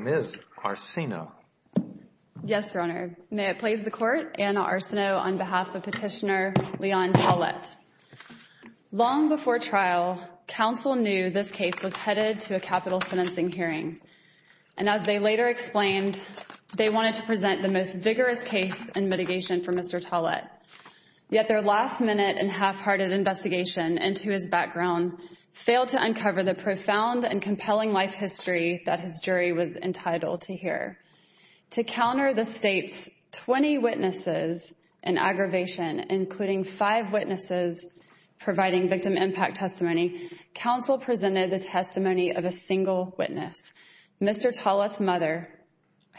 Ms. Arsino Yes, Your Honor. May it please the Court, Anna Arsino on behalf of Petitioner Leon Tollette. Long before trial, counsel knew this case was headed to a capital sentencing hearing, and as they later explained, they wanted to present the most vigorous case in mitigation for Mr. Tollette. Yet their last-minute and half-hearted investigation into his background failed to uncover the profound and compelling life history that his jury was entitled to hear. To counter the State's 20 witnesses and aggravation, including five witnesses providing victim impact testimony, counsel presented the testimony of a single witness, Mr. Tollette's mother,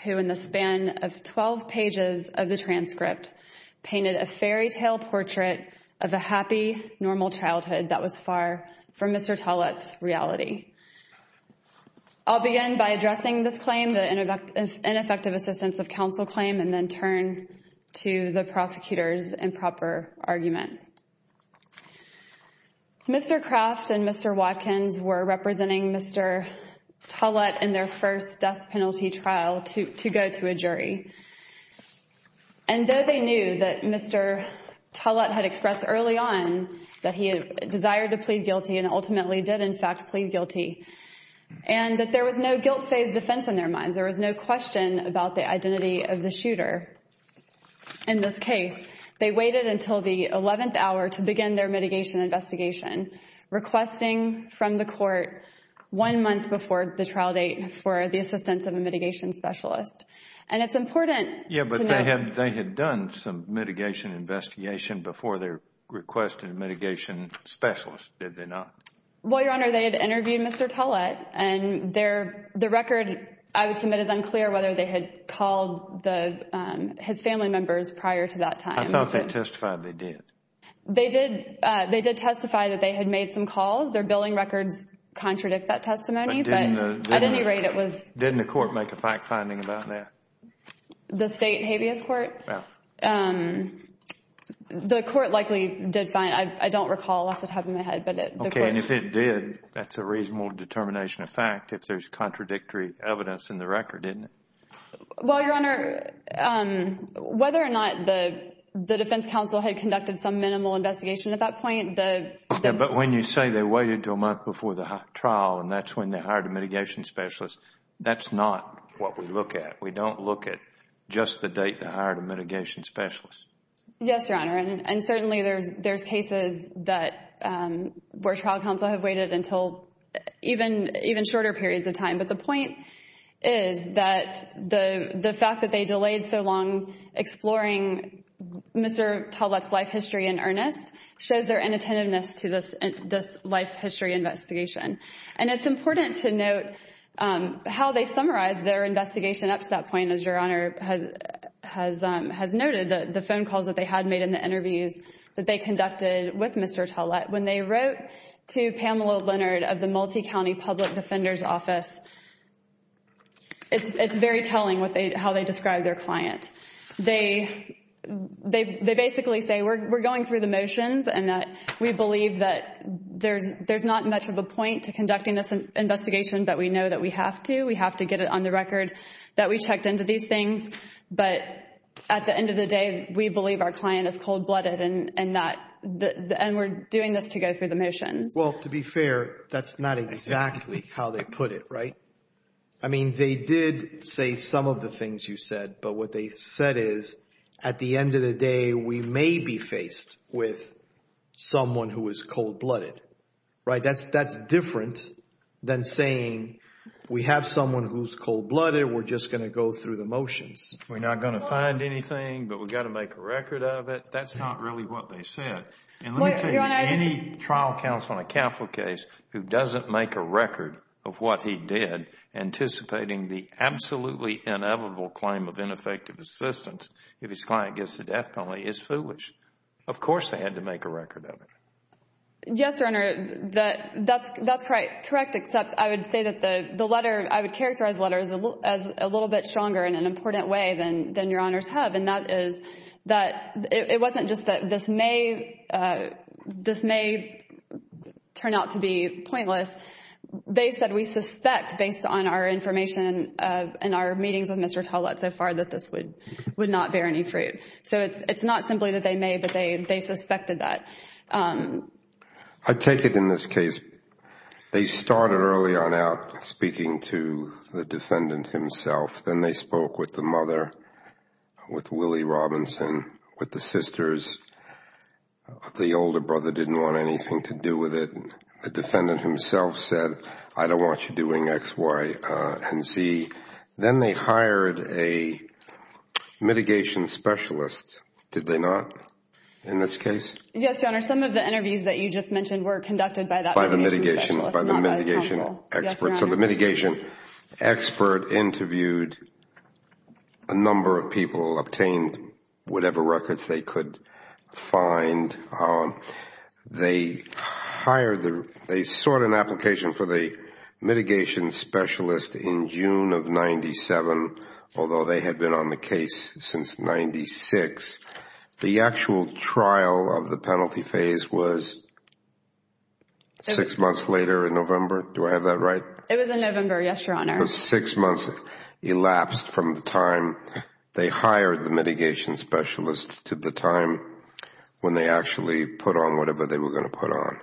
who, in the span of 12 pages of the transcript, painted a fairytale portrait of a happy, normal childhood that was far from Mr. Tollette's reality. I'll begin by addressing this claim, the ineffective assistance of counsel claim, and then turn to the prosecutor's argument. Mr. Kraft and Mr. Watkins were representing Mr. Tollette in their first death penalty trial to go to a jury, and though they knew that Mr. Tollette had expressed early on that he desired to plead guilty and ultimately did, in fact, plead guilty, and that there was no guilt-phased defense in their minds, there was no question about the identity of the shooter, in this case. They waited until the 11th hour to begin their mitigation investigation, requesting from the court one month before the trial date for the assistance of a mitigation specialist. And it's important to know— Yeah, but they had done some mitigation investigation before they requested a mitigation specialist, did they not? Well, Your Honor, they had interviewed Mr. Tollette, and the record, I would submit, is unclear whether they had called his family members prior to that time. I thought they testified they did. They did testify that they had made some calls. Their billing records contradict that testimony, but at any rate, it was— Didn't the court make a fact-finding about that? The state habeas court? The court likely did find— I don't recall off the top of my head, but the court— Okay, and if it did, that's a reasonable determination of fact if there's contradictory evidence in the record, isn't it? Well, Your Honor, whether or not the defense counsel had conducted some minimal investigation at that point, the— Yeah, but when you say they waited until a month before the trial and that's when they hired a mitigation specialist, that's not what we look at. We don't look at just the date they hired a mitigation specialist. Yes, Your Honor, and certainly there's cases that— where trial counsel have waited until even shorter periods of time, but the point is that the fact that they delayed so long exploring Mr. Talbot's life history in earnest shows their inattentiveness to this life history investigation, and it's important to note how they summarized their investigation up to that point, as Your Honor has noted, the phone calls that they had made in the interviews that they conducted with Mr. Talbot. When they wrote to Pamela Leonard of the Multicounty Public Defender's Office, it's very telling what they— how they described their client. They basically say, we're going through the motions and that we believe that there's not much of a point to conducting this investigation, but we know that we have to. We have to get it on the record that we checked into these things, but at the end of the day, we believe our client is cold-blooded and that— and we're doing this to go through the motions. Well, to be fair, that's not exactly how they put it, right? I mean, they did say some of the things you said, but what they said is, at the end of the day, we may be faced with someone who is cold-blooded, right? That's— we have someone who's cold-blooded, we're just going to go through the motions. We're not going to find anything, but we've got to make a record of it. That's not really what they said. And let me tell you, any trial counsel in a capital case who doesn't make a record of what he did, anticipating the absolutely inevitable claim of ineffective assistance if his client gets a death penalty, is foolish. Of course they had to make a record of it. Yes, Your Honor, that's correct, except I would say that the letter— I would characterize the letter as a little bit stronger in an important way than Your Honors have, and that is that it wasn't just that this may— this may turn out to be pointless. They said we suspect, based on our information in our meetings with Mr. Tollett so far, that this would not bear any fruit. So it's not simply that they may, but they suspected that. I take it in this case, they started early on out speaking to the defendant himself. Then they spoke with the mother, with Willie Robinson, with the sisters. The older brother didn't want anything to do with it. The defendant himself said, I don't want you doing X, Y, and Z. Then they hired a mitigation specialist, did they not, in this case? Yes, Your Honor, some of the interviews that you just mentioned were conducted by that— By the mitigation expert. So the mitigation expert interviewed a number of people, obtained whatever records they could find. They hired— they sought an application for the 97, although they had been on the case since 96. The actual trial of the penalty phase was six months later in November. Do I have that right? It was in November, yes, Your Honor. But six months elapsed from the time they hired the mitigation specialist to the time when they actually put on whatever they were going to put on.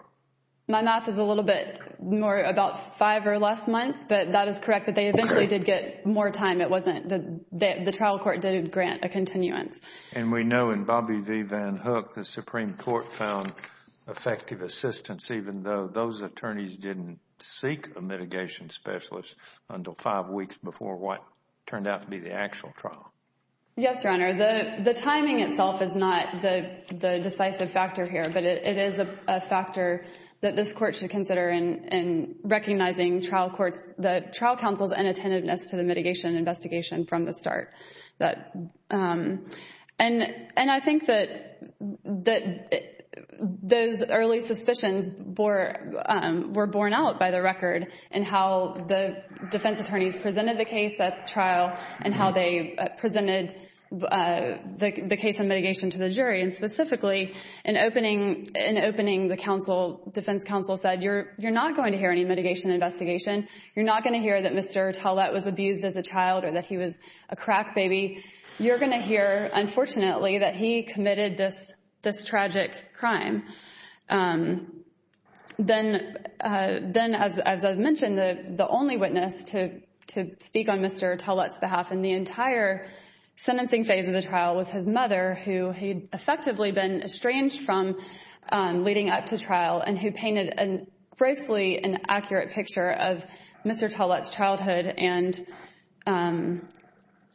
My math is a little bit more about five or less months, but that is correct, they eventually did get more time. The trial court did grant a continuance. And we know in Bobby V. Van Hook, the Supreme Court found effective assistance even though those attorneys didn't seek a mitigation specialist until five weeks before what turned out to be the actual trial. Yes, Your Honor. The timing itself is not the decisive factor here, but it is a factor that the trial counsel's inattentiveness to the mitigation investigation from the start. And I think that those early suspicions were borne out by the record in how the defense attorneys presented the case at trial and how they presented the case of mitigation to the jury. And specifically in opening the defense counsel said, you're not going to hear any mitigation investigation. You're not going to hear that Mr. Tallett was abused as a child or that he was a crack baby. You're going to hear, unfortunately, that he committed this tragic crime. Then, as I've mentioned, the only witness to speak on Mr. Tallett's behalf in the entire trial, who was estranged from leading up to trial and who painted a grossly inaccurate picture of Mr. Tallett's childhood and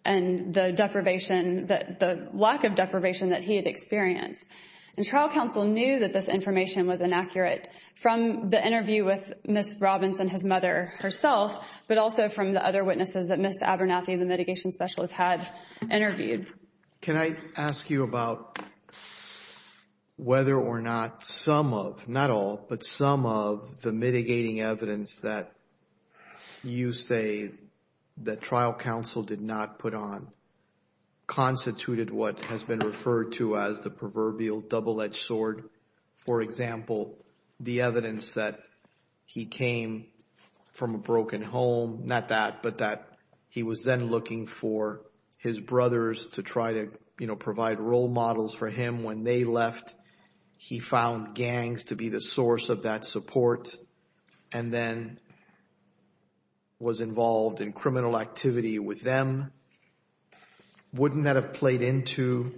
the deprivation, the lack of deprivation that he had experienced. And trial counsel knew that this information was inaccurate from the interview with Ms. Robbins and his mother herself, but also from the other witnesses that Ms. Abernathy, the mitigation specialist, had interviewed. Can I ask you about whether or not some of, not all, but some of the mitigating evidence that you say that trial counsel did not put on constituted what has been referred to as the proverbial double-edged sword? For example, the evidence that he came from a broken home, not that, but that he was then looking for his brothers to try to provide role models for him. When they left, he found gangs to be the source of that support and then was involved in criminal activity with them. Wouldn't that have played into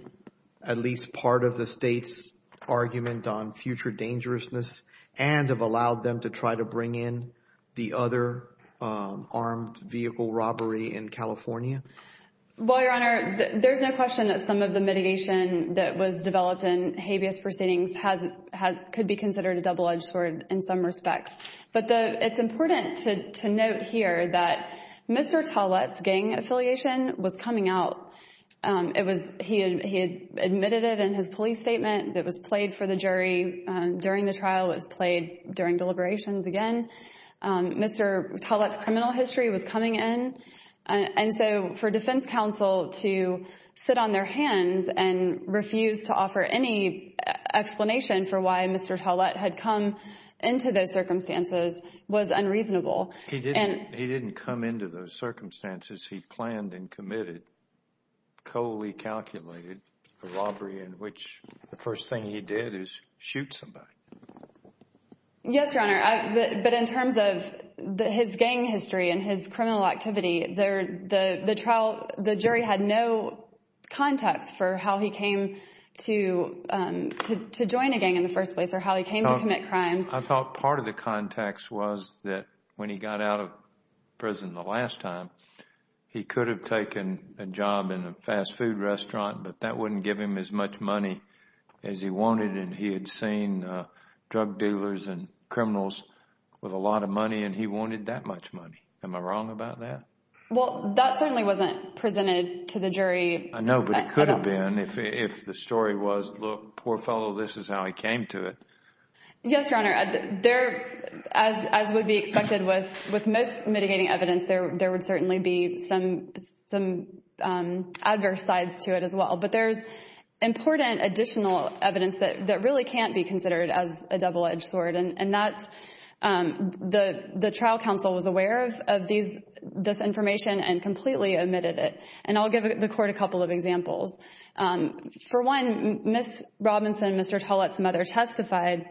at least part of the state's argument on future dangerousness and have allowed them to try to bring in the other armed vehicle robbery in California? Well, Your Honor, there's no question that some of the mitigation that was developed in habeas proceedings could be considered a double-edged sword in some respects. But it's important to note here that Mr. Tallett's gang affiliation was coming out. It was, he had admitted it in his police statement that was played for the jury during the trial. It was played during deliberations again. Mr. Tallett's criminal history was coming in. And so for defense counsel to sit on their hands and refuse to offer any explanation for why Mr. Tallett had come into those circumstances was unreasonable. He didn't come into those circumstances. He planned and committed, coley calculated, a robbery in which the first thing he did is shoot somebody. Yes, Your Honor. But in terms of his gang history and his criminal activity, the jury had no context for how he came to join a gang in the first place or how he came to commit crimes. I thought part of the context was that when he got out of prison the last time, he could have taken a job in a fast food restaurant, but that wouldn't give him as much money as he wanted. And he had seen drug dealers and criminals with a lot of money, and he wanted that much money. Am I wrong about that? Well, that certainly wasn't presented to the jury. I know, but it could have been if the story was, look, poor fellow, this is how he came to it. Yes, Your Honor. There, as would be expected with most mitigating evidence, there would certainly be some adverse sides to it as well. But there's important additional evidence that really can't be considered as a double-edged sword. And that's, the trial counsel was aware of this information and completely omitted it. And I'll give the court a couple of examples. For one, Ms. Robinson, Mr. Tollett's mother, testified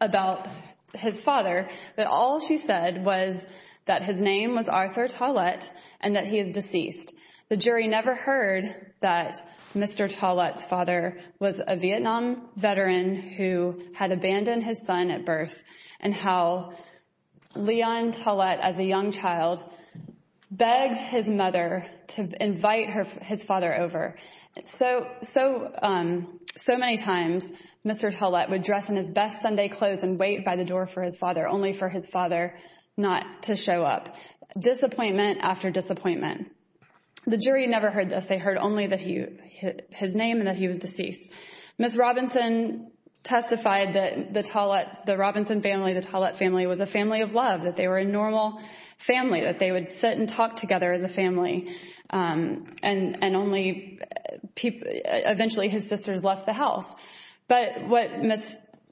about his father, that all she said was that his name was Arthur Tollett and that he is deceased. The jury never heard that Mr. Tollett's father was a Vietnam veteran who had abandoned his son at birth, and how Leon Tollett, as a young child, begged his mother to invite his father over. And so many times, Mr. Tollett would dress in his best Sunday clothes and wait by the door for his father, only for his father not to show up. Disappointment after disappointment. The jury never heard this. They heard only that he, his name and that he was deceased. Ms. Robinson testified that the Tollett, the Robinson family, the Tollett family, was a family of love, that they were a normal family, that they would sit and talk together as a family, and only eventually his sisters left the house. But what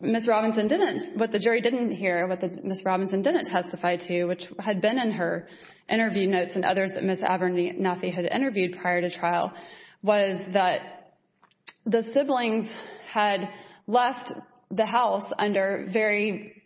Ms. Robinson didn't, what the jury didn't hear, what Ms. Robinson didn't testify to, which had been in her interview notes and others that Ms. Abernathy had interviewed prior to trial, was that the siblings had left the house under very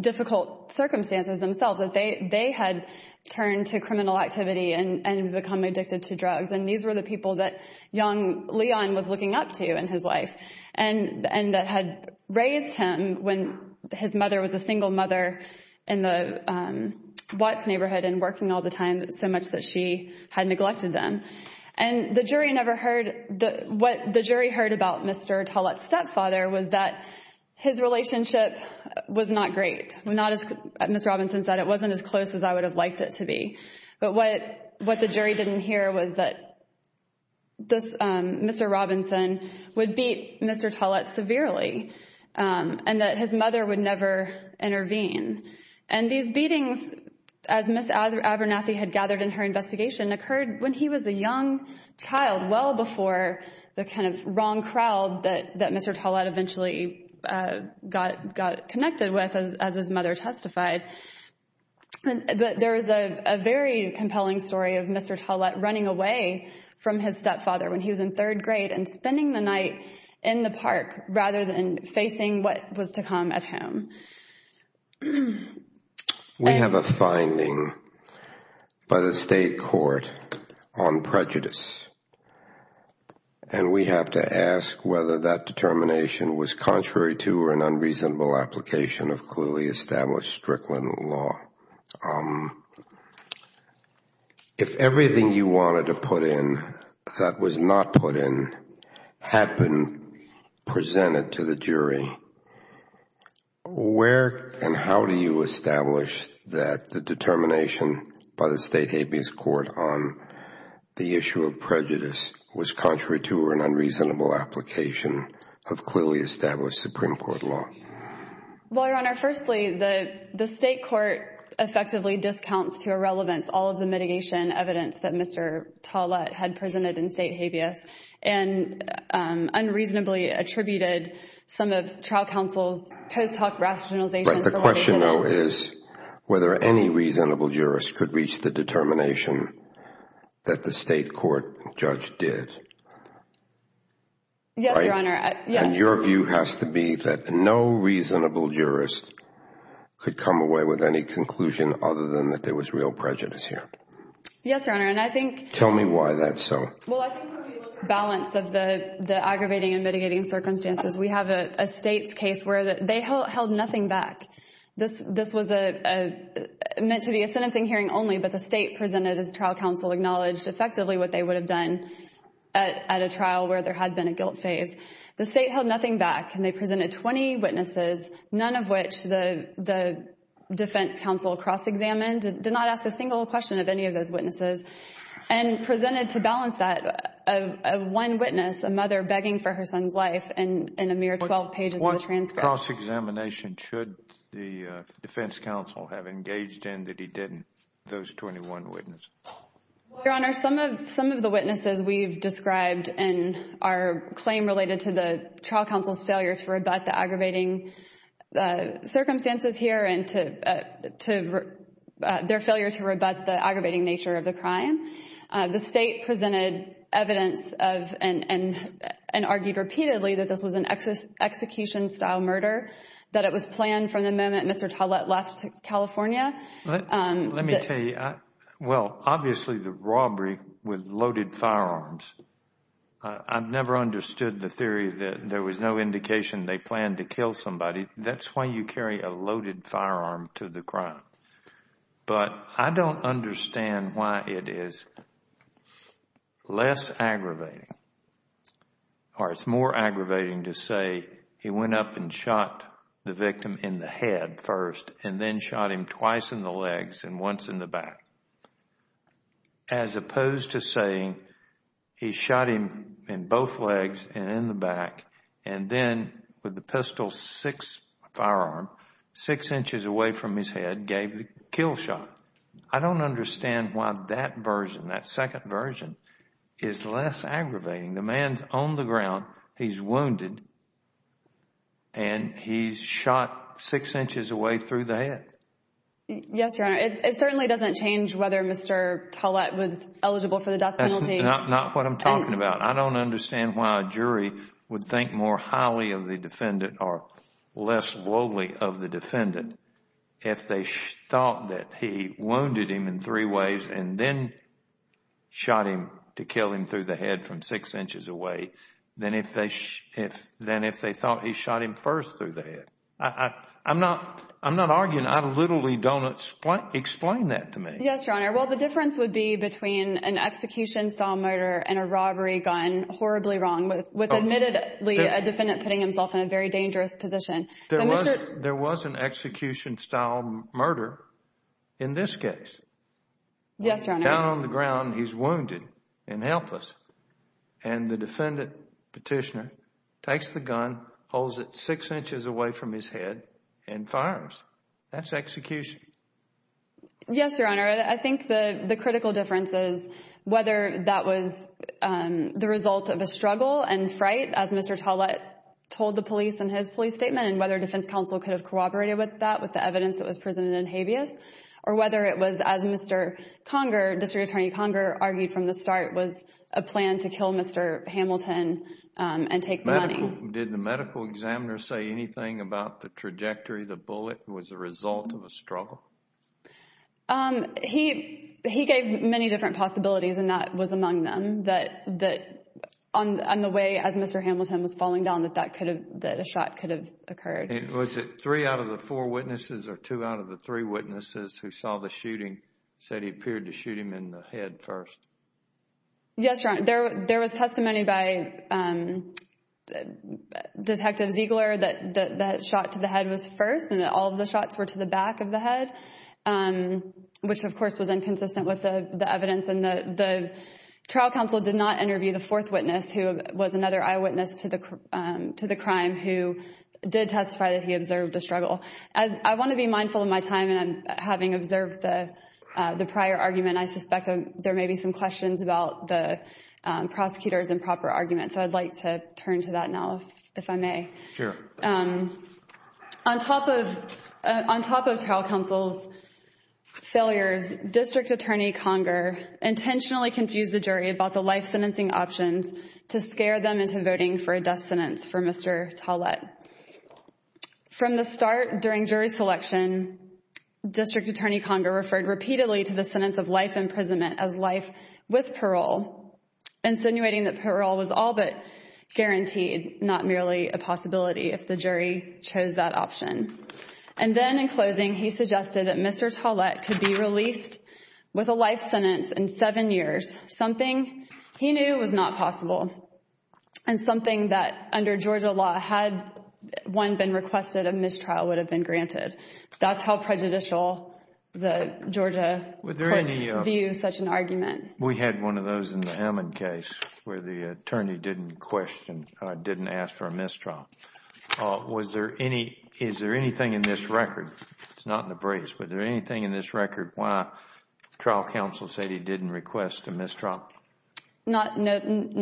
difficult circumstances themselves, that they had turned to criminal activity and become addicted to drugs. And these were the people that young Leon was looking up to in his life, and that had raised him when his mother was a single mother in the Watts neighborhood and working all the time, so much that she had neglected them. And the jury never heard, what the jury heard about Mr. Tollett's stepfather was that his relationship was not great, not as Ms. Robinson said, it wasn't as close as I would have liked it to be. But what the jury didn't hear was that Mr. Robinson would beat Mr. Tollett severely, and that his mother would never intervene. And these beatings, as Ms. Abernathy had gathered in her investigation, occurred when he was a young child, well before the kind of wrong crowd that Mr. Tollett eventually got connected with, as his mother testified. But there is a very compelling story of Mr. Tollett running away from his stepfather when he was in third grade and spending the night in the park rather than facing what was to come at him. We have a finding by the state court on prejudice, and we have to ask whether that determination was contrary to or an unreasonable application of clearly established Strickland law. If everything you wanted to put in that was not put in had been presented to the jury, where and how do you establish that the determination by the state habeas court on the issue of prejudice was contrary to or an unreasonable application of clearly established Supreme Court law? Well, Your Honor, firstly, the state court effectively discounts to irrelevance all of the mitigation evidence that Mr. Tollett had presented in state trial counsel's post hoc rationalization. The question though is whether any reasonable jurist could reach the determination that the state court judge did. Yes, Your Honor. And your view has to be that no reasonable jurist could come away with any conclusion other than that there was real prejudice here. Yes, Your Honor, and I think... Tell me why that's so. Well, I think the balance of the aggravating and mitigating circumstances. We have a state's case where they held nothing back. This was meant to be a sentencing hearing only, but the state presented as trial counsel acknowledged effectively what they would have done at a trial where there had been a guilt phase. The state held nothing back, and they presented 20 witnesses, none of which the defense counsel cross-examined, did not ask a single question of any of those witnesses, and presented to balance that one witness, a mother begging for her son's life in a mere 12 pages of the transcript. What cross-examination should the defense counsel have engaged in that he didn't, those 21 witnesses? Well, Your Honor, some of the witnesses we've described in our claim related to the trial counsel's failure to rebut the aggravating circumstances here and their failure to rebut the aggravating nature of the crime. The state presented evidence and argued repeatedly that this was an execution-style murder, that it was planned from the moment Mr. Tollett left California. Let me tell you, well, obviously the robbery was loaded firearms. I've never understood the theory that there was no indication they planned to kill somebody. That's why you carry a loaded firearm to the crime. But I don't understand why it is less aggravating or it's more aggravating to say he went up and shot the victim in the head first, and then shot him twice in the legs and once in the back, as opposed to saying he shot him in both legs and in the back, and then with the pistol's sixth firearm, six inches away from his head, gave the kill shot. I don't understand why that version, that second version, is less aggravating. The man's on the ground, he's wounded, and he's shot six inches away through the head. Yes, Your Honor. It certainly doesn't change whether Mr. Tollett was eligible for the death penalty. That's not what I'm talking about. I don't understand why a jury would think more highly of the defendant or less lowly of the defendant if they thought that he wounded him in three ways and then shot him to kill him through the head from six inches away than if they thought he shot him first through the head. I'm not arguing. I literally don't explain that to me. Yes, Your Honor. Well, the difference would be between an execution style murder and a robbery gun, horribly wrong, with admittedly a defendant putting himself in a very dangerous position. There was an execution style murder in this case. Yes, Your Honor. Down on the ground, he's wounded and helpless, and the defendant petitioner takes the gun, holds it six inches away from his head, and fires. That's execution. Yes, Your Honor. I think the critical difference is whether that was the result of a struggle and fright, as Mr. Tollett told the police in his police statement, and whether defense counsel could have corroborated with that with the evidence that was presented in habeas, or whether it was, as Mr. Conger, District Attorney Conger, argued from the start, was a plan to kill Mr. Hamilton and take the money. Did the medical examiner say anything about the shot? He gave many different possibilities, and that was among them, that on the way, as Mr. Hamilton was falling down, that a shot could have occurred. Was it three out of the four witnesses, or two out of the three witnesses who saw the shooting said he appeared to shoot him in the head first? Yes, Your Honor. There was testimony by Detective Ziegler that the shot to head was first, and that all of the shots were to the back of the head, which, of course, was inconsistent with the evidence. The trial counsel did not interview the fourth witness, who was another eyewitness to the crime, who did testify that he observed a struggle. I want to be mindful of my time, and having observed the prior argument, I suspect there may be some questions about the prosecutor's improper argument, so I'd like to turn to that now, if I may. Sure. On top of trial counsel's failures, District Attorney Conger intentionally confused the jury about the life sentencing options to scare them into voting for a death sentence for Mr. Tollett. From the start, during jury selection, District Attorney Conger referred repeatedly to the sentence of life imprisonment as life with parole, insinuating that parole was all guaranteed, not merely a possibility, if the jury chose that option. And then, in closing, he suggested that Mr. Tollett could be released with a life sentence in seven years, something he knew was not possible, and something that, under Georgia law, had one been requested, a mistrial would have been granted. That's how prejudicial the Georgia courts view such an question, didn't ask for a mistrial. Is there anything in this record, it's not in the briefs, but is there anything in this record why trial counsel said he didn't request a mistrial? No,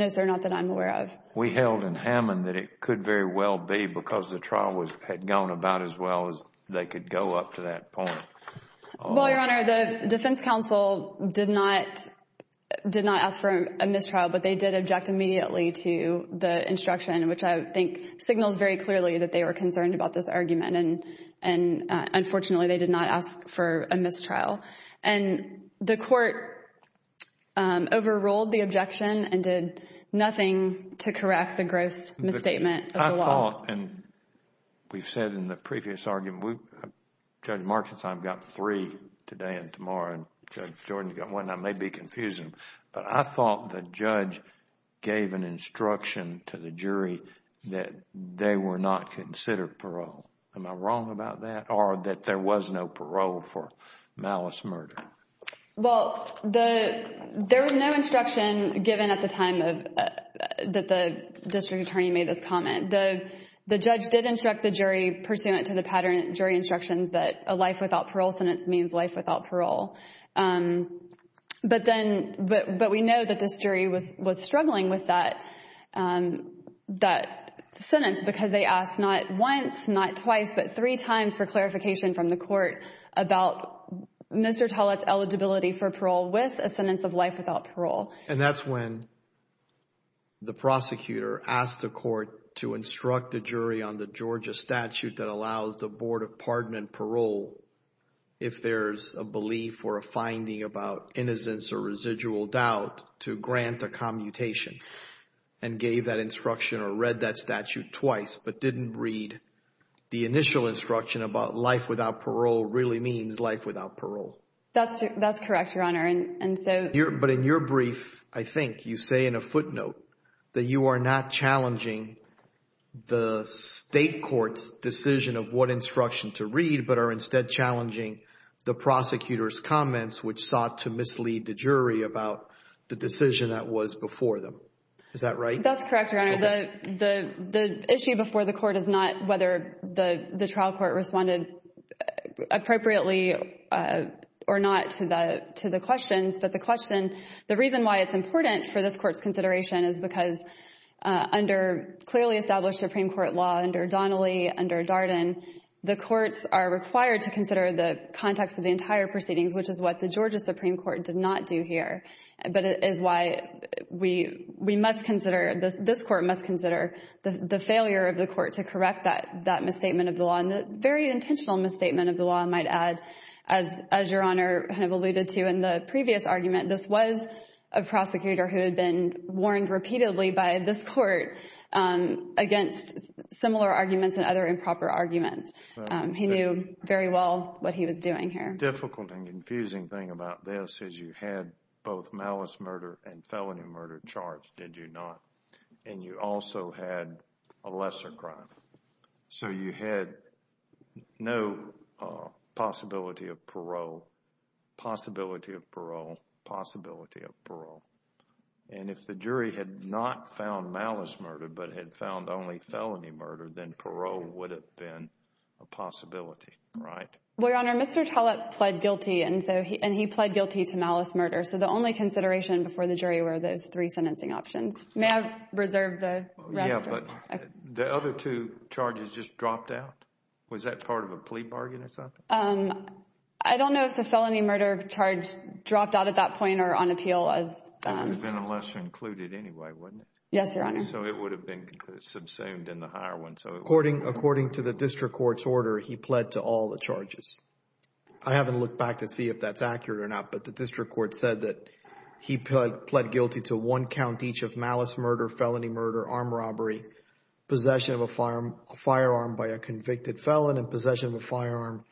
sir, not that I'm aware of. We held in Hammond that it could very well be because the trial had gone about as well as they could go up to that point. Well, Your Honor, the defense counsel did not ask for a mistrial, but they did object immediately to the instruction, which I think signals very clearly that they were concerned about this argument. And unfortunately, they did not ask for a mistrial. And the court overruled the objection and did nothing to correct the gross misstatement of the law. I thought, and we've said in the previous argument, Judge Markson's time got three today and tomorrow, and Judge Jordan's got one. That may be confusing, but I thought the judge gave an instruction to the jury that they were not considered parole. Am I wrong about that? Or that there was no parole for malice murder? Well, there was no instruction given at the time that the district attorney made this comment. The judge did instruct the jury pursuant to the pattern of jury instructions that a life without parole sentence means life without parole. But we know that this jury was struggling with that sentence because they asked not once, not twice, but three times for clarification from the court about Mr. Tollett's eligibility for parole with a sentence of life without parole. And that's when the prosecutor asked the court to instruct the jury on the Georgia statute that allows the Board of Pardon and Parole, if there's a belief or a finding about innocence or residual doubt, to grant a commutation and gave that instruction or read that statute twice, but didn't read the initial instruction about life without parole really means life without parole. That's correct, Your Honor. But in your brief, I think you say in a footnote that you are not challenging the state court's decision of what instruction to read, but are instead challenging the prosecutor's comments, which sought to mislead the jury about the decision that was before them. Is that right? That's correct, Your Honor. The issue before the court is not whether the trial court responded appropriately or not to the questions, but the question, the reason why it's important for this court's consideration is because under clearly established Supreme Court law, under Donnelly, under Darden, the courts are required to consider the context of the entire proceedings, which is what the Georgia Supreme Court did not do here. But it is why we must consider, this court must consider the failure of the court to correct that misstatement of the law. And the very intentional misstatement of the law, I might add, as Your Honor kind of alluded to in the previous argument, this was a prosecutor who had been warned repeatedly by this court against similar arguments and other improper arguments. He knew very well what he was doing here. Difficult and confusing thing about this is you had both malice murder and felony murder charged, did you not? And you also had a lesser crime. So you had no possibility of parole, possibility of parole, possibility of parole. And if the jury had not found malice murder, but had found only felony murder, then parole would have been a possibility, right? Well, Your Honor, Mr. Tollett pled guilty, and he pled guilty to malice murder. So the only options. May I reserve the rest? Yeah, but the other two charges just dropped out. Was that part of a plea bargain or something? I don't know if the felony murder charge dropped out at that point or on appeal. It would have been a lesser included anyway, wouldn't it? Yes, Your Honor. So it would have been subsumed in the higher one. So according to the district court's order, he pled to all the charges. I haven't looked back to see if that's accurate or not, but the district court said that he pled guilty to one count each of malice murder, felony murder, armed robbery, possession of a firearm by a convicted felon, and possession of a firearm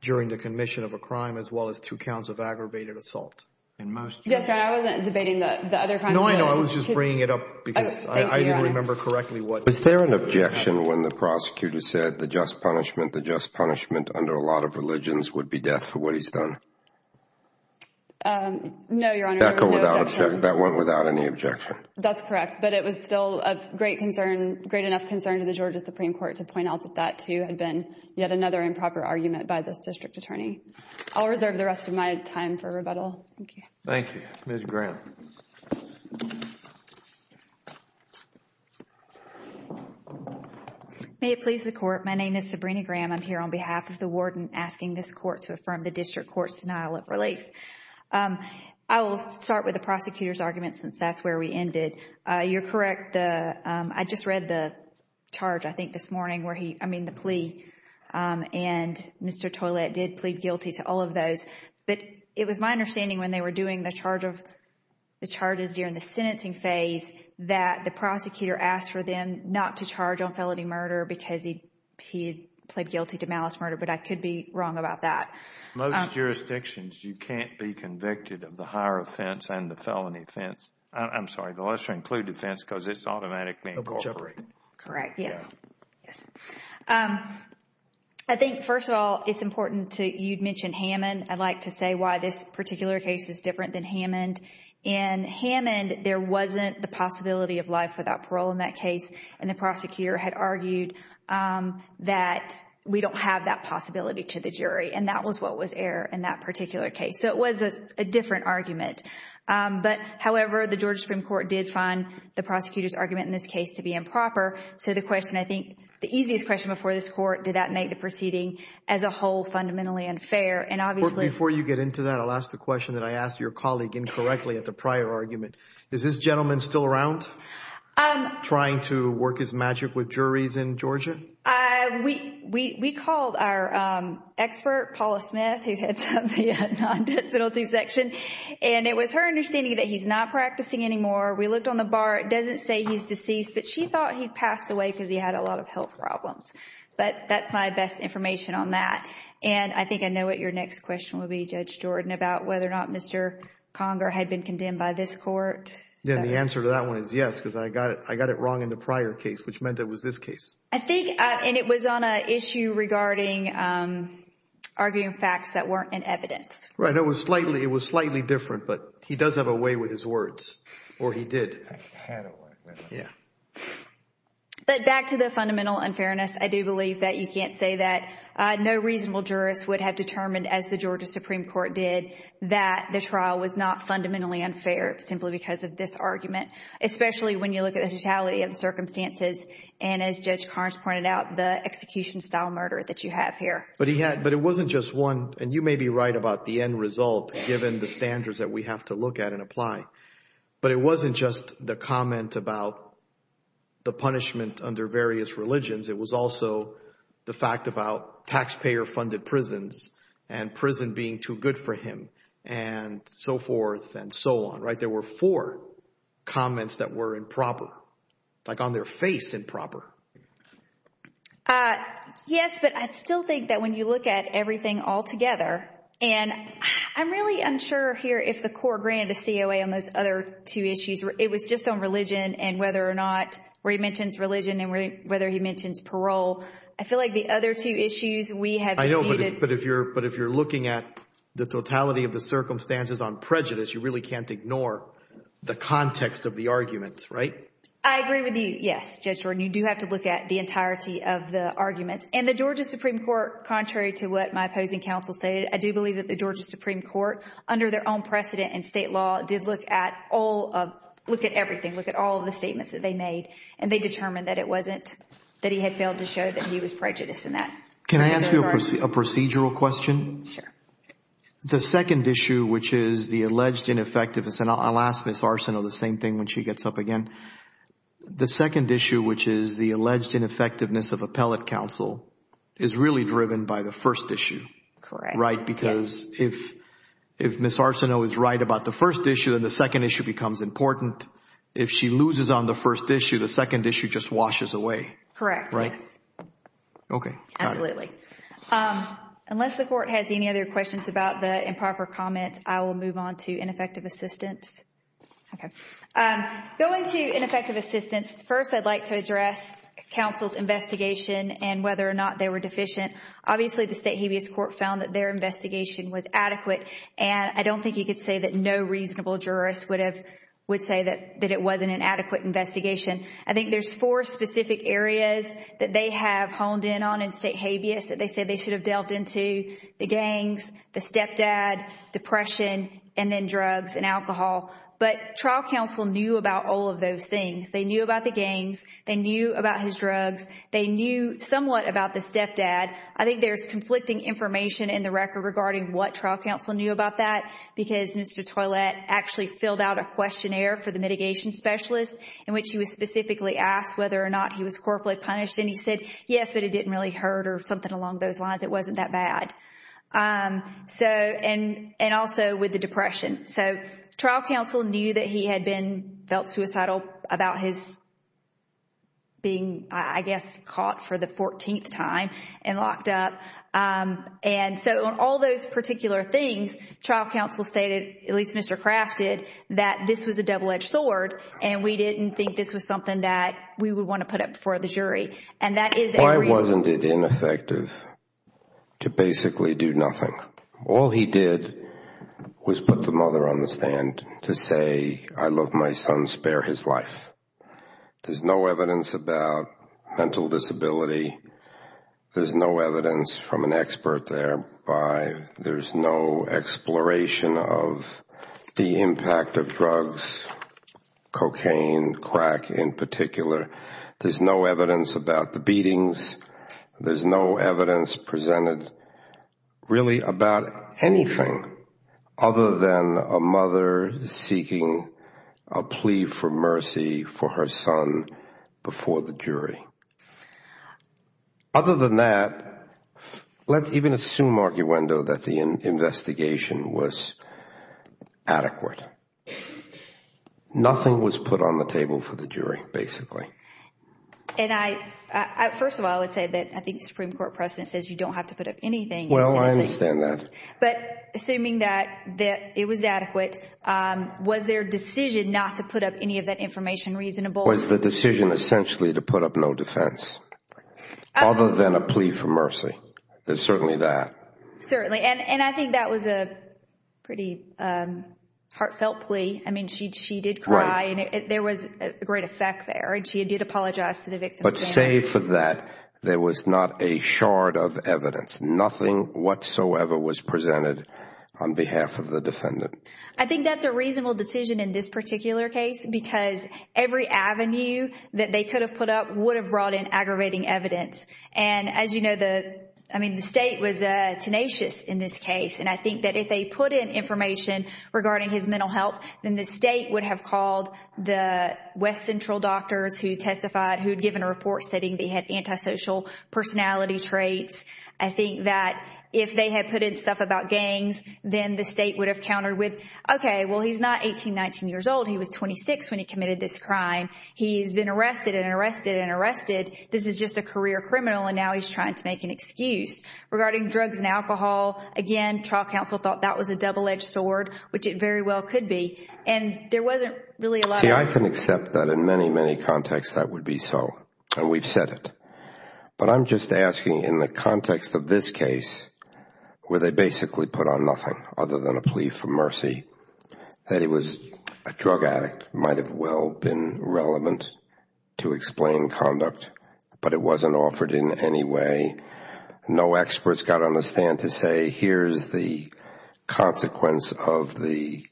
during the commission of a crime, as well as two counts of aggravated assault. Yes, Your Honor, I wasn't debating the other crimes. No, I know. I was just bringing it up because I didn't remember correctly what. Was there an objection when the prosecutor said the just punishment, the just punishment under a lot of religions would be death for what he's done? No, Your Honor, there was no objection. That went without any objection. That's correct, but it was still of great concern, great enough concern to the Georgia Supreme Court to point out that that too had been yet another improper argument by this district attorney. I'll reserve the rest of my time for rebuttal. Thank you. Thank you. Ms. Graham. May it please the court. My name is Sabrina Graham. I'm here on behalf of the warden asking this court to affirm the district court's denial of relief. I will start with the prosecutor's argument since that's where we ended. You're correct. I just read the charge, I think, this morning where he, I mean the plea, and Mr. Toilette did plead guilty to all of those, but it was my understanding when they were doing the charge of the charges during the sentencing phase that the prosecutor asked for them not to charge on felony murder because he plead guilty to malice murder, but I could be wrong about that. Most jurisdictions, you can't be convicted of the higher offense and the felony offense. I'm sorry, the lesser included offense because it's automatically incorporated. Correct. Yes. Yes. I think, first of all, it's important to, you'd mentioned Hammond. I'd like to say why this particular case is different than Hammond. In Hammond, there wasn't the possibility of life without parole in that case, and the prosecutor had argued that we don't have that possibility to the jury, and that was what was air in that particular case. It was a different argument, but however, the Georgia Supreme Court did find the prosecutor's argument in this case to be improper, so the question, I think, the easiest question before this court, did that make the proceeding as a whole fundamentally unfair? Before you get into that, I'll ask the question that I asked your colleague incorrectly at the prior argument. Is this gentleman still around trying to work his magic with juries in Georgia? We called our expert, Paula Smith, who heads up the non-death penalty section, and it was her understanding that he's not practicing anymore. We looked on the bar. It doesn't say he's deceased, but she thought he'd passed away because he had a lot of health problems, but that's my best information on that, and I think I know what your next question will be, Judge Jordan, about whether or not Mr. Conger had been I got it wrong in the prior case, which meant it was this case. I think, and it was on an issue regarding arguing facts that weren't in evidence. Right, it was slightly different, but he does have a way with his words, or he did. But back to the fundamental unfairness, I do believe that you can't say that no reasonable jurist would have determined, as the Georgia Supreme Court did, that the trial was not fundamentally unfair simply because of this argument, especially when you look at the totality of the circumstances and, as Judge Carnes pointed out, the execution-style murder that you have here. But he had, but it wasn't just one, and you may be right about the end result given the standards that we have to look at and apply, but it wasn't just the comment about the punishment under various religions. It was also the fact about taxpayer-funded prisons and prison being too good for him and so forth and so on. Right, there were four comments that were improper, like on their face improper. Yes, but I still think that when you look at everything all together, and I'm really unsure here if the court granted a COA on those other two issues. It was just on religion and whether or not, where he mentions religion and whether he mentions parole. I feel the other two issues we have. I know, but if you're looking at the totality of the circumstances on prejudice, you really can't ignore the context of the arguments, right? I agree with you, yes, Judge Gordon. You do have to look at the entirety of the arguments, and the Georgia Supreme Court, contrary to what my opposing counsel stated, I do believe that the Georgia Supreme Court, under their own precedent and state law, did look at all of, look at everything, look at all of the statements that they made, and they determined that it wasn't, that he had failed to show that he was prejudiced in that. Can I ask you a procedural question? Sure. The second issue, which is the alleged ineffectiveness, and I'll ask Ms. Arsenault the same thing when she gets up again. The second issue, which is the alleged ineffectiveness of appellate counsel, is really driven by the first issue, right? Because if Ms. Arsenault is right about the first issue, then the second issue becomes important. If she loses on the first issue, the second issue just washes away. Correct. Right. Okay. Absolutely. Unless the court has any other questions about the improper comment, I will move on to ineffective assistance. Okay. Going to ineffective assistance, first, I'd like to address counsel's investigation and whether or not they were deficient. Obviously, the state habeas court found that their investigation was adequate, and I don't think you could say that no reasonable jurist would have, would say that it wasn't an adequate investigation. I think there's four specific areas that they have honed in on in state habeas that they said they should have delved into, the gangs, the stepdad, depression, and then drugs and alcohol. But trial counsel knew about all of those things. They knew about the gangs. They knew about his drugs. They knew somewhat about the stepdad. I think there's conflicting information in the record regarding what trial counsel knew about that because Mr. Toilette actually filled out a questionnaire for the mitigation specialist in which he was specifically asked whether or not he was corporately punished, and he said, yes, but it didn't really hurt or something along those lines. It wasn't that bad. And also with the depression. So, trial counsel knew that he had been, felt suicidal about his being, I guess, caught for the fourteenth time and locked up. And so, on all those particular things, trial counsel stated, at least Mr. Craft did, that this was a double-edged sword, and we didn't think this was something that we would want to put up before the jury. And that is a reason— Why wasn't it ineffective to basically do nothing? All he did was put the mother on the stand to say, I love my son, spare his life. There's no evidence about mental disability. There's no evidence from an expert there. There's no exploration of the impact of drugs, cocaine, crack in particular. There's no evidence about the beatings. There's no evidence presented really about anything other than a mother seeking a plea for mercy for her son before the jury. Other than that, let's even assume, arguendo, that the investigation was adequate. Nothing was put on the table for the jury, basically. And first of all, I would say that I think the Supreme Court precedent says you don't have to put up anything. Well, I understand that. But assuming that it was adequate, was their decision not to put up any of that information reasonable? Was the decision essentially to put up no defense, other than a plea for mercy? There's certainly that. Certainly. And I think that was a pretty heartfelt plea. I mean, she did cry, there was a great effect there. And she did apologize to the victim. But save for that, there was not a shard of evidence. Nothing whatsoever was presented on behalf of the defendant. I think that's a reasonable decision in this particular case, because every avenue that they could have put up would have brought in aggravating evidence. And as you know, I mean, the state was tenacious in this case. And I think that if they put in information regarding his mental health, then the state would have called the West Central doctors who testified, who had given a report stating they had antisocial personality traits. I think that if they had put in stuff about gangs, then the state would have countered with, okay, well, he's not 18, 19 years old. He was 26 when he committed this crime. He's been arrested and arrested and arrested. This is just a career criminal, and now he's trying to make an excuse. Regarding drugs and alcohol, again, trial counsel thought that was a double-edged sword, which it very well could be. And there wasn't really a lot of... See, I can accept that in many, many contexts that would be so, and we've said it. But I'm just asking in the context of this case, where they basically put on nothing other than a plea for mercy, that it was a drug addict might have well been relevant to explain conduct, but it wasn't offered in any way. No experts got on the stand to say, here's the consequence of the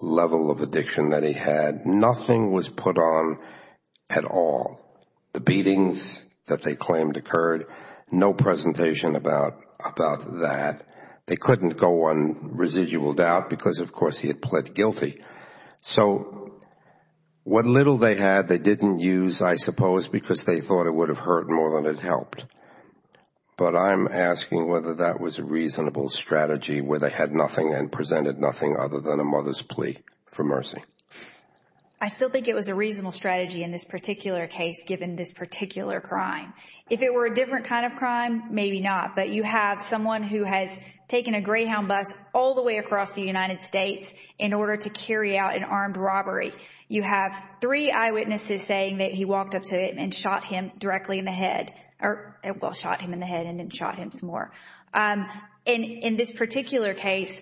level of addiction that he had. Nothing was put on at all. The beatings that they claimed occurred, no presentation about that. They couldn't go on residual doubt because, of course, he had pled guilty. So what little they had, they didn't use, I suppose, because they thought it would have hurt more than it helped. But I'm asking whether that was a reasonable strategy, where they had nothing and presented nothing other than a mother's plea for mercy. I still think it was a reasonable strategy in this particular case, given this particular crime. If it were a different kind of crime, maybe not. But you have someone who has a Greyhound bus all the way across the United States in order to carry out an armed robbery. You have three eyewitnesses saying that he walked up to him and shot him directly in the head, or shot him in the head and then shot him some more. In this particular case,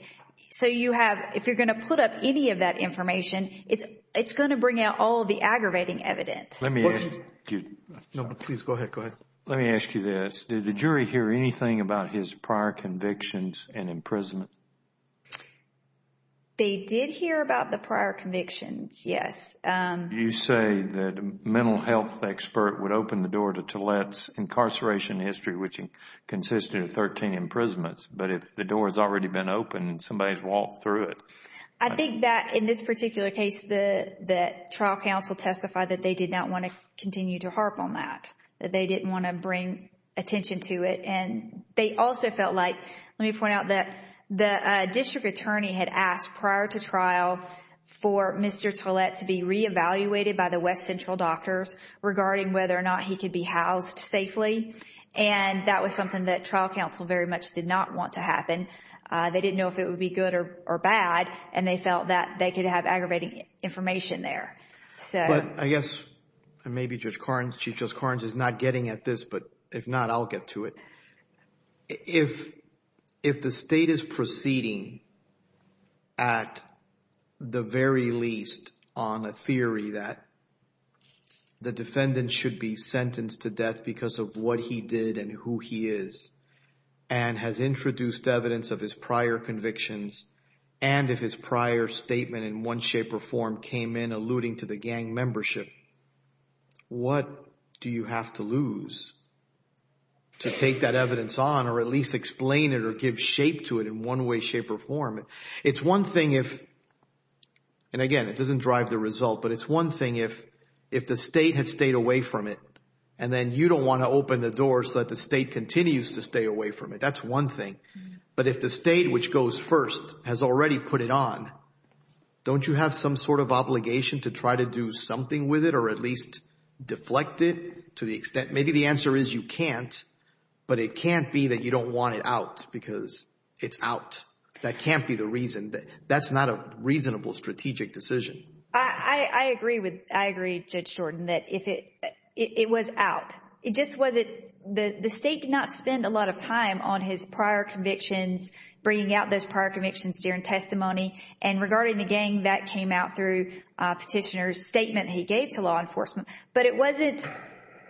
so you have, if you're going to put up any of that information, it's going to bring out all the aggravating evidence. Let me ask you this. Did the jury hear anything about his prior convictions? And imprisonment? They did hear about the prior convictions, yes. You say that a mental health expert would open the door to Tillett's incarceration history, which consisted of 13 imprisonments. But if the door has already been opened, somebody's walked through it. I think that in this particular case, the trial counsel testified that they did not want to continue to harp on that, that they didn't want to bring attention to it. And they also felt like, let me point out that the district attorney had asked prior to trial for Mr. Tillett to be re-evaluated by the West Central doctors regarding whether or not he could be housed safely. And that was something that trial counsel very much did not want to happen. They didn't know if it would be good or bad, and they felt that they could have aggravating information there. But I guess, and maybe Judge Karnes, Chief Judge Karnes is not getting at this, but if not, I'll get to it. If the state is proceeding at the very least on a theory that the defendant should be sentenced to death because of what he did and who he is, and has introduced evidence of his prior convictions, and if his prior statement in one shape or form came in alluding to the gang membership, what do you have to lose to take that evidence on or at least explain it or give shape to it in one way, shape, or form? It's one thing if, and again, it doesn't drive the result, but it's one thing if the state had stayed away from it, and then you don't want to open the door so that the state continues to stay away from it. That's one thing. But if the state which goes first has already put it on, don't you have some sort of obligation to try to do something with it or at least deflect it to the extent, maybe the answer is you can't, but it can't be that you don't want it out because it's out. That can't be the reason. That's not a reasonable strategic decision. I agree with, I agree, Judge Jordan, that if it, it was out. It just wasn't, the state did not spend a lot of time on his prior convictions, bringing out those prior convictions during testimony, and regarding the gang, that came out through a petitioner's statement he gave to law enforcement, but it wasn't,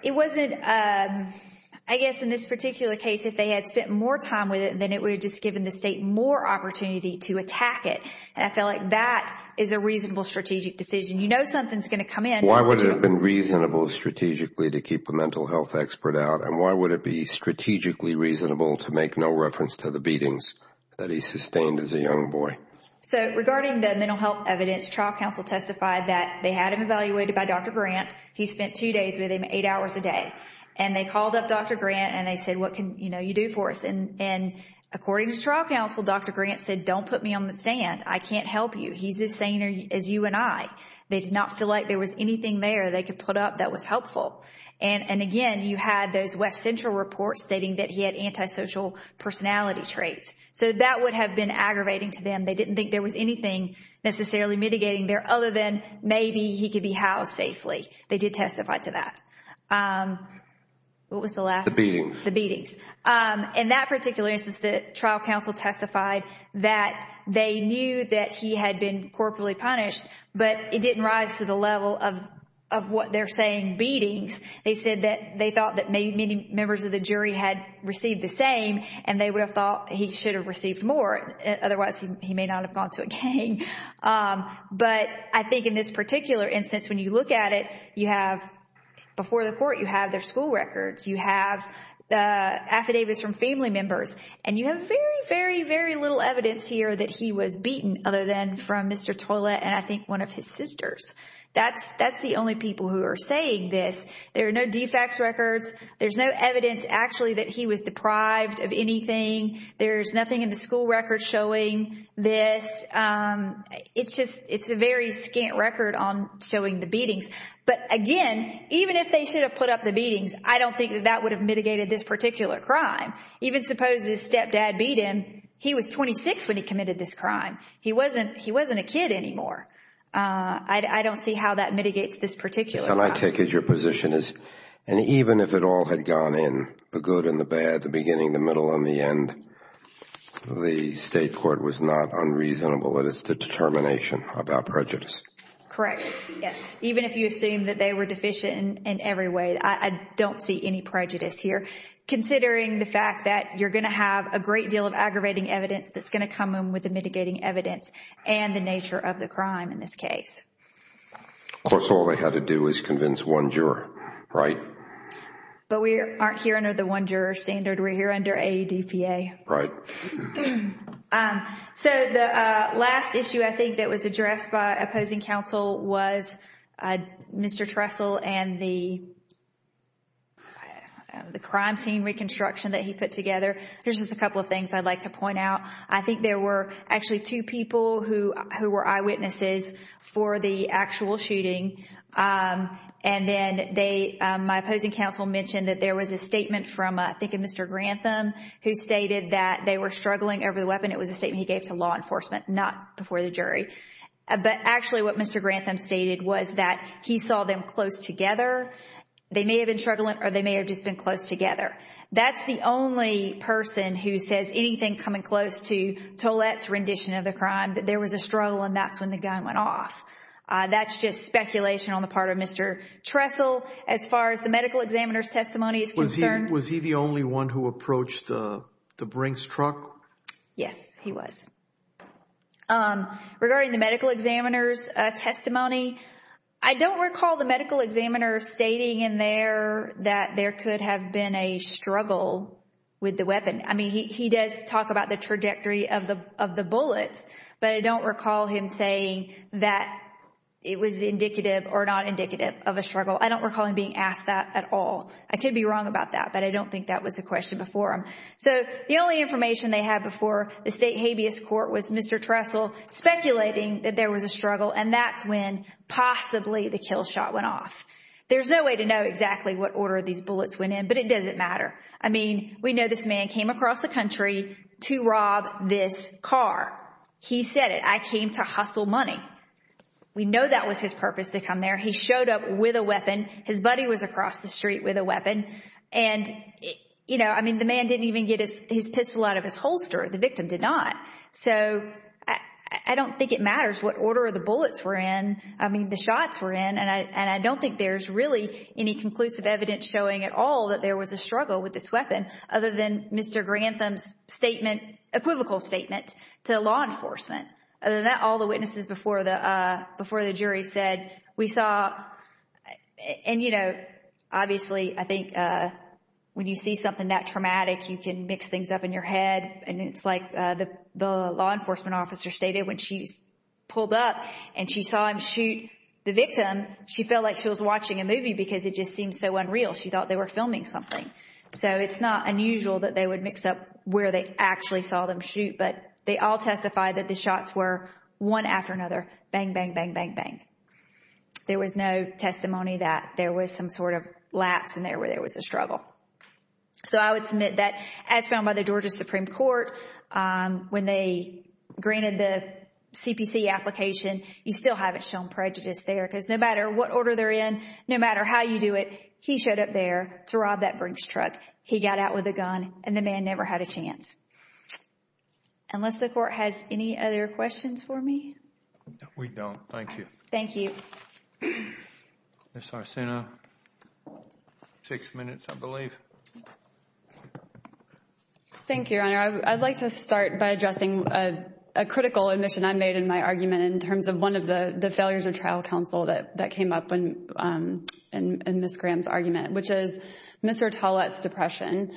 it wasn't, I guess in this particular case, if they had spent more time with it, then it would have just given the state more opportunity to attack it, and I feel like that is a reasonable strategic decision. You know something's going to come in. Why would it have been reasonable strategically to keep a mental health expert out, and why would it be strategically reasonable to make no reference to the beatings that he sustained as a young boy? So regarding the mental health evidence, trial counsel testified that they had him evaluated by Dr. Grant. He spent two days with him, eight hours a day, and they called up Dr. Grant, and they said, what can, you know, you do for us, and according to trial counsel, Dr. Grant said, don't put me on the sand. I can't help you. He's as sane as you and I. They did not feel like there was anything there they could put up that was helpful, and again, you had those West Central reports stating that he had antisocial personality traits, so that would have been aggravating to them. They didn't think there was anything necessarily mitigating there other than maybe he could be housed safely. They did testify to that. What was the last? The beatings. The beatings. In that particular instance, the trial counsel testified that they knew that he had been corporately punished, but it didn't rise to the level of what they're saying, beatings. They said they thought that many members of the jury had received the same, and they would have thought he should have received more. Otherwise, he may not have gone to a gang, but I think in this particular instance, when you look at it, you have, before the court, you have their school records. You have affidavits from family members, and you have very, very, very little evidence here that he was beaten other than from Mr. Tolla and I think one of his sisters. That's the only people who are saying this. There are no defects records. There's no evidence actually that he was deprived of anything. There's nothing in the school records showing this. It's a very scant record on showing the beatings, but again, even if they should have put up the beatings, I don't think that that would have mitigated this particular crime. Even suppose his stepdad beat him. He was 26 when he committed this crime. He wasn't a kid anymore. I don't see how that might take as your position, and even if it all had gone in, the good and the bad, the beginning, the middle, and the end, the state court was not unreasonable in its determination about prejudice. Correct. Yes. Even if you assume that they were deficient in every way, I don't see any prejudice here considering the fact that you're going to have a great deal of aggravating evidence that's going to come in with the mitigating evidence and the nature of the crime in this case. Of course, all they had to do was convince one juror, right? But we aren't here under the one juror standard. We're here under AEDPA. Right. So the last issue I think that was addressed by opposing counsel was Mr. Trestle and the crime scene reconstruction that he put together. There's just a couple of things I'd like to point out. I think there were actually two people who were eyewitnesses for the actual shooting, and then my opposing counsel mentioned that there was a statement from, I think, a Mr. Grantham who stated that they were struggling over the weapon. It was a statement he gave to law enforcement, not before the jury. But actually what Mr. Grantham stated was that he saw them close together. They may have been struggling or they may have just been close together. That's the only person who says anything coming close to Tolette's rendition of the crime, that there was a struggle and that's when the gun went off. That's just speculation on the part of Mr. Trestle. As far as the medical examiner's testimony is concerned... Was he the only one who approached the Brinks truck? Yes, he was. Regarding the medical examiner's testimony, I don't recall the medical examiner stating in there that there could have been a struggle with the weapon. He does talk about the trajectory of the bullets, but I don't recall him saying that it was indicative or not indicative of a struggle. I don't recall him being asked that at all. I could be wrong about that, but I don't think that was a question before him. The only information they had before the state habeas court was Mr. Trestle speculating that there was a struggle and that's when possibly the kill shot went off. There's no way to know exactly what order these bullets went in, but it doesn't matter. We know this man came across the country to rob this car. He said it. I came to hustle money. We know that was his purpose to come there. He showed up with a weapon. His buddy was across the street with a weapon. The man didn't even get his pistol out of his car. The shots were in and I don't think there's really any conclusive evidence showing at all that there was a struggle with this weapon other than Mr. Grantham's equivocal statement to law enforcement. Other than that, all the witnesses before the jury said, we saw... Obviously, I think when you see something that traumatic, you can mix things up in your head. It's like the law enforcement officer stated when she was pulled up and she saw him shoot the victim, she felt like she was watching a movie because it just seemed so unreal. She thought they were filming something. It's not unusual that they would mix up where they actually saw them shoot, but they all testified that the shots were one after another, bang, bang, bang, bang, bang. There was no testimony that there was some sort of lapse in there where there was a struggle. I would submit that as found by the Georgia Supreme Court, when they did the CPC application, you still haven't shown prejudice there because no matter what order they're in, no matter how you do it, he showed up there to rob that Brinks truck. He got out with a gun and the man never had a chance. Unless the court has any other questions for me? We don't. Thank you. Thank you. Ms. Arsena, six minutes, I believe. Thank you, Your Honor. I'd like to start by addressing a critical admission I made in my argument in terms of one of the failures of trial counsel that came up in Ms. Graham's argument, which is Mr. Tollett's depression.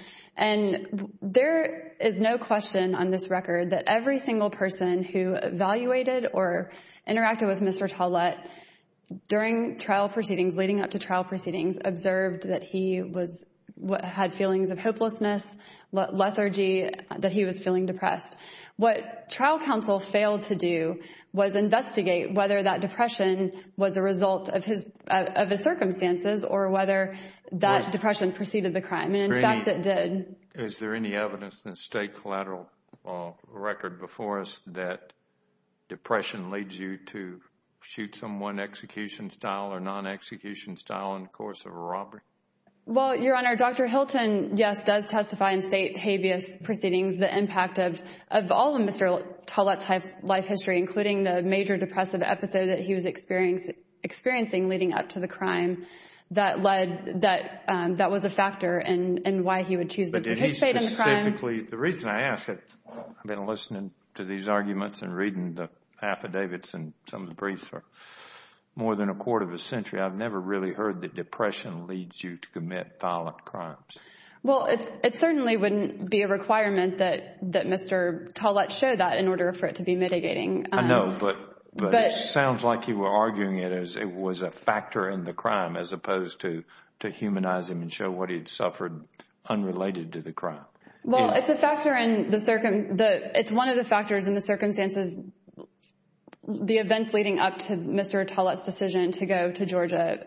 There is no question on this record that every single person who evaluated or interacted with Mr. Tollett during trial proceedings, leading up to trial had feelings of hopelessness, lethargy, that he was feeling depressed. What trial counsel failed to do was investigate whether that depression was a result of his circumstances or whether that depression preceded the crime. In fact, it did. Is there any evidence in the state collateral record before us that depression leads you to shoot someone execution style or non-execution style in the course of a robbery? Well, Your Honor, Dr. Hilton, yes, does testify in state habeas proceedings the impact of all of Mr. Tollett's life history, including the major depressive episode that he was experiencing leading up to the crime that was a factor in why he would choose to participate in the crime. The reason I ask, I've been listening to these arguments and reading the affidavits and some of the briefs for more than a quarter of a century, I've never really heard that depression leads you to commit violent crimes. Well, it certainly wouldn't be a requirement that Mr. Tollett show that in order for it to be mitigating. I know, but it sounds like you were arguing it as it was a factor in the crime as opposed to to humanize him and show what he'd suffered unrelated to the crime. Well, it's a factor in the, it's one of the factors in the circumstances, the events leading up to Mr. Tollett's decision to go to Georgia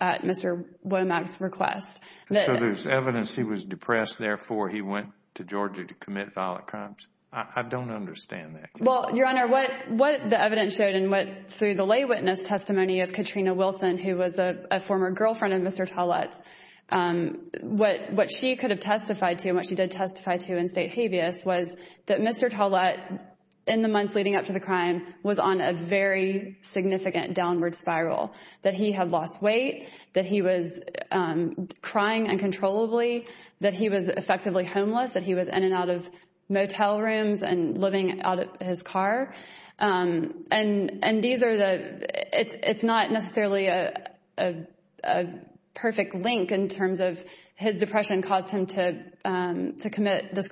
at Mr. Womack's request. So there's evidence he was depressed, therefore he went to Georgia to commit violent crimes. I don't understand that. Well, Your Honor, what the evidence showed and what through the lay witness testimony of Katrina Wilson, who was a former girlfriend of Mr. Tollett's, what she could have testified to and what she did testify to in state habeas was that Mr. Tollett in the months leading up to the crime was on a very significant downward spiral, that he had lost weight, that he was crying uncontrollably, that he was effectively homeless, that he was in and out of motel rooms and living out of his car. And these are the, it's not necessarily a perfect link in terms of his depression caused him to is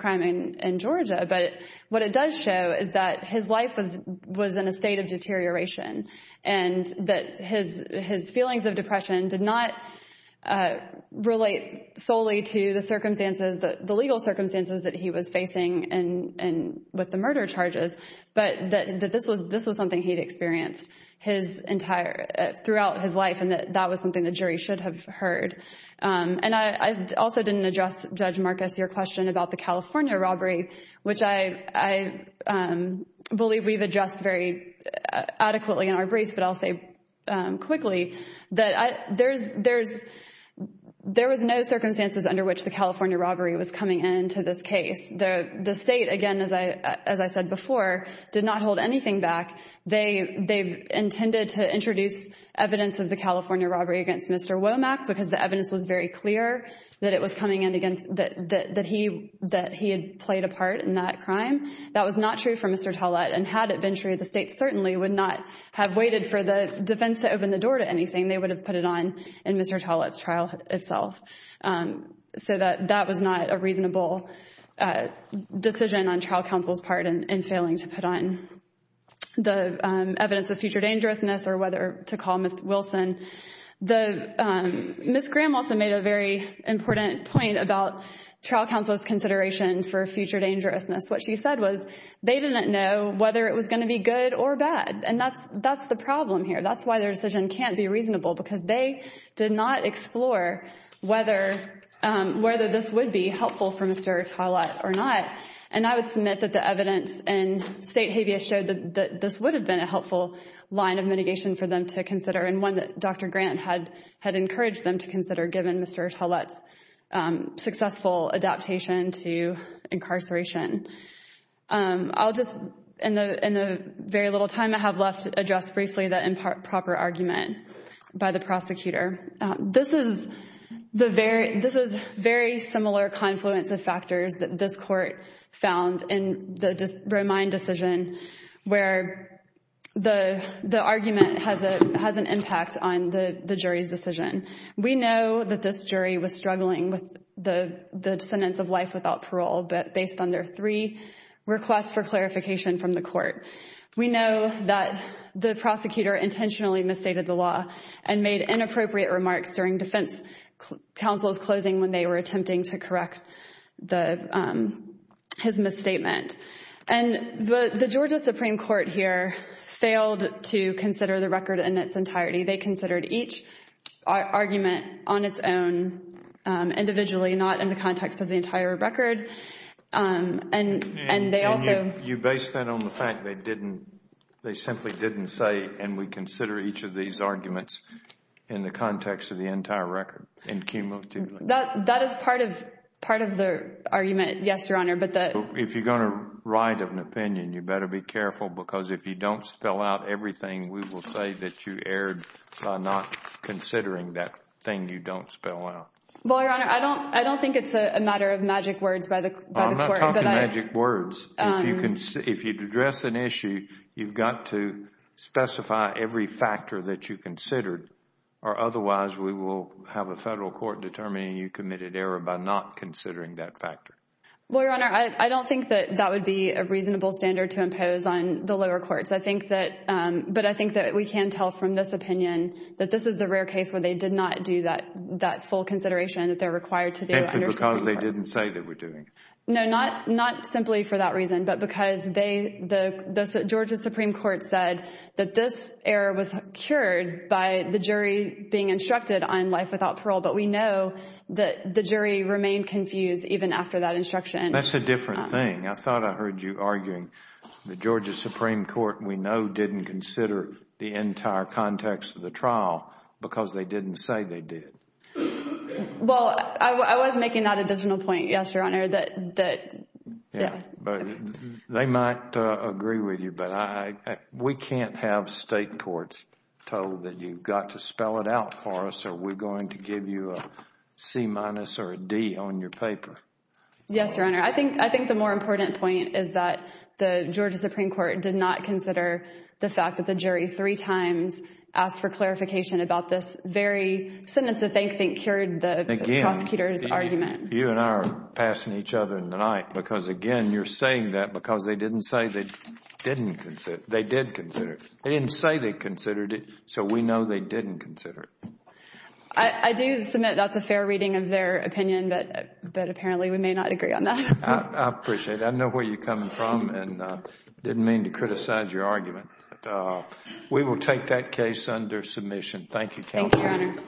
that his life was in a state of deterioration and that his feelings of depression did not relate solely to the circumstances, the legal circumstances that he was facing with the murder charges, but that this was something he'd experienced his entire, throughout his life and that that was something the jury should have heard. And I also didn't address Judge Marcus, your question about the California robbery, which I believe we've addressed very adequately in our briefs, but I'll say quickly that there's, there was no circumstances under which the California robbery was coming into this case. The state, again, as I said before, did not hold anything back. They've intended to introduce evidence of the California robbery against Mr. Womack because the evidence was very clear that it was coming in against, that he, that he had played a part in that crime. That was not true for Mr. Tollett and had it been true, the state certainly would not have waited for the defense to open the door to anything. They would have put it on in Mr. Tollett's trial itself. So that, that was not a reasonable decision on trial counsel's part in failing to put on the evidence of future dangerousness or whether to call Ms. Wilson. The, Ms. Graham also made a very important point about trial counsel's consideration for future dangerousness. What she said was they didn't know whether it was going to be good or bad. And that's, that's the problem here. That's why their decision can't be reasonable because they did not explore whether, whether this would be helpful for Mr. Tollett or not. And I would submit that the evidence and state habeas showed that this would have been a helpful line of mitigation for them to consider and one that Dr. Grant had, had encouraged them to consider given Mr. Tollett's successful adaptation to incarceration. I'll just, in the, in the very little time I have left, address briefly the improper argument by the prosecutor. This is the very, this is very similar confluence of factors that this court found in the Romine decision where the, the argument has a, has an impact on the, the jury's decision. We know that this jury was struggling with the, the sentence of life without parole, but based on their three requests for clarification from the court. We know that the prosecutor intentionally misstated the law and made inappropriate remarks during defense counsel's closing when they were attempting to correct the, his misstatement. And the, the Georgia Supreme Court here failed to consider the record in its entirety. They considered each argument on its own, individually, not in the context of the entire record. And, and they also, You base that on the fact they didn't, they simply didn't say, and we consider each of these arguments in the context of the entire record, in cumulatively. That, that is part of, part of the argument. Yes, Your Honor, but the, If you're going to write an opinion, you better be careful because if you don't spell out everything, we will say that you erred by not considering that thing you don't spell out. Well, Your Honor, I don't, I don't think it's a matter of magic words by the, by the court. I'm not talking magic words. If you can, if you'd address an issue, you've got to specify every factor that you considered or otherwise we will have a federal court determining you committed error by not considering that factor. Well, Your Honor, I don't think that that would be a reasonable standard to impose on the lower courts. I think that, but I think that we can tell from this opinion that this is the rare case where they did not do that, that full consideration that they're required to do. Because they didn't say they were doing it. No, not, not simply for that reason, but because they, the Georgia Supreme Court said that this error was cured by the jury being instructed on life without parole. But we know that the jury remained confused even after that instruction. That's a different thing. I thought I heard you arguing the Georgia Supreme Court, we know, didn't consider the entire context of the trial because they didn't say they did. Well, I was making that additional point, yes, Your Honor, that, that, yeah. But they might agree with you, but I, we can't have state courts told that you've got to spell it out for us or we're going to give you a C minus or a D on your paper. Yes, Your Honor. I think, I think the more important point is that the Georgia Supreme Court did not consider the fact that the jury three times asked for clarification about this very sentence that they think cured the prosecutor's argument. You and I are passing each other in the night because, again, you're saying that because they didn't say they didn't consider, they did consider it. They didn't say they considered it, so we know they didn't consider it. I, I do submit that's a fair reading of their opinion, but, but apparently we may not agree on that. I appreciate it. I know where you're coming from and didn't mean to criticize your argument. We will take that case under submission. Thank you, counsel.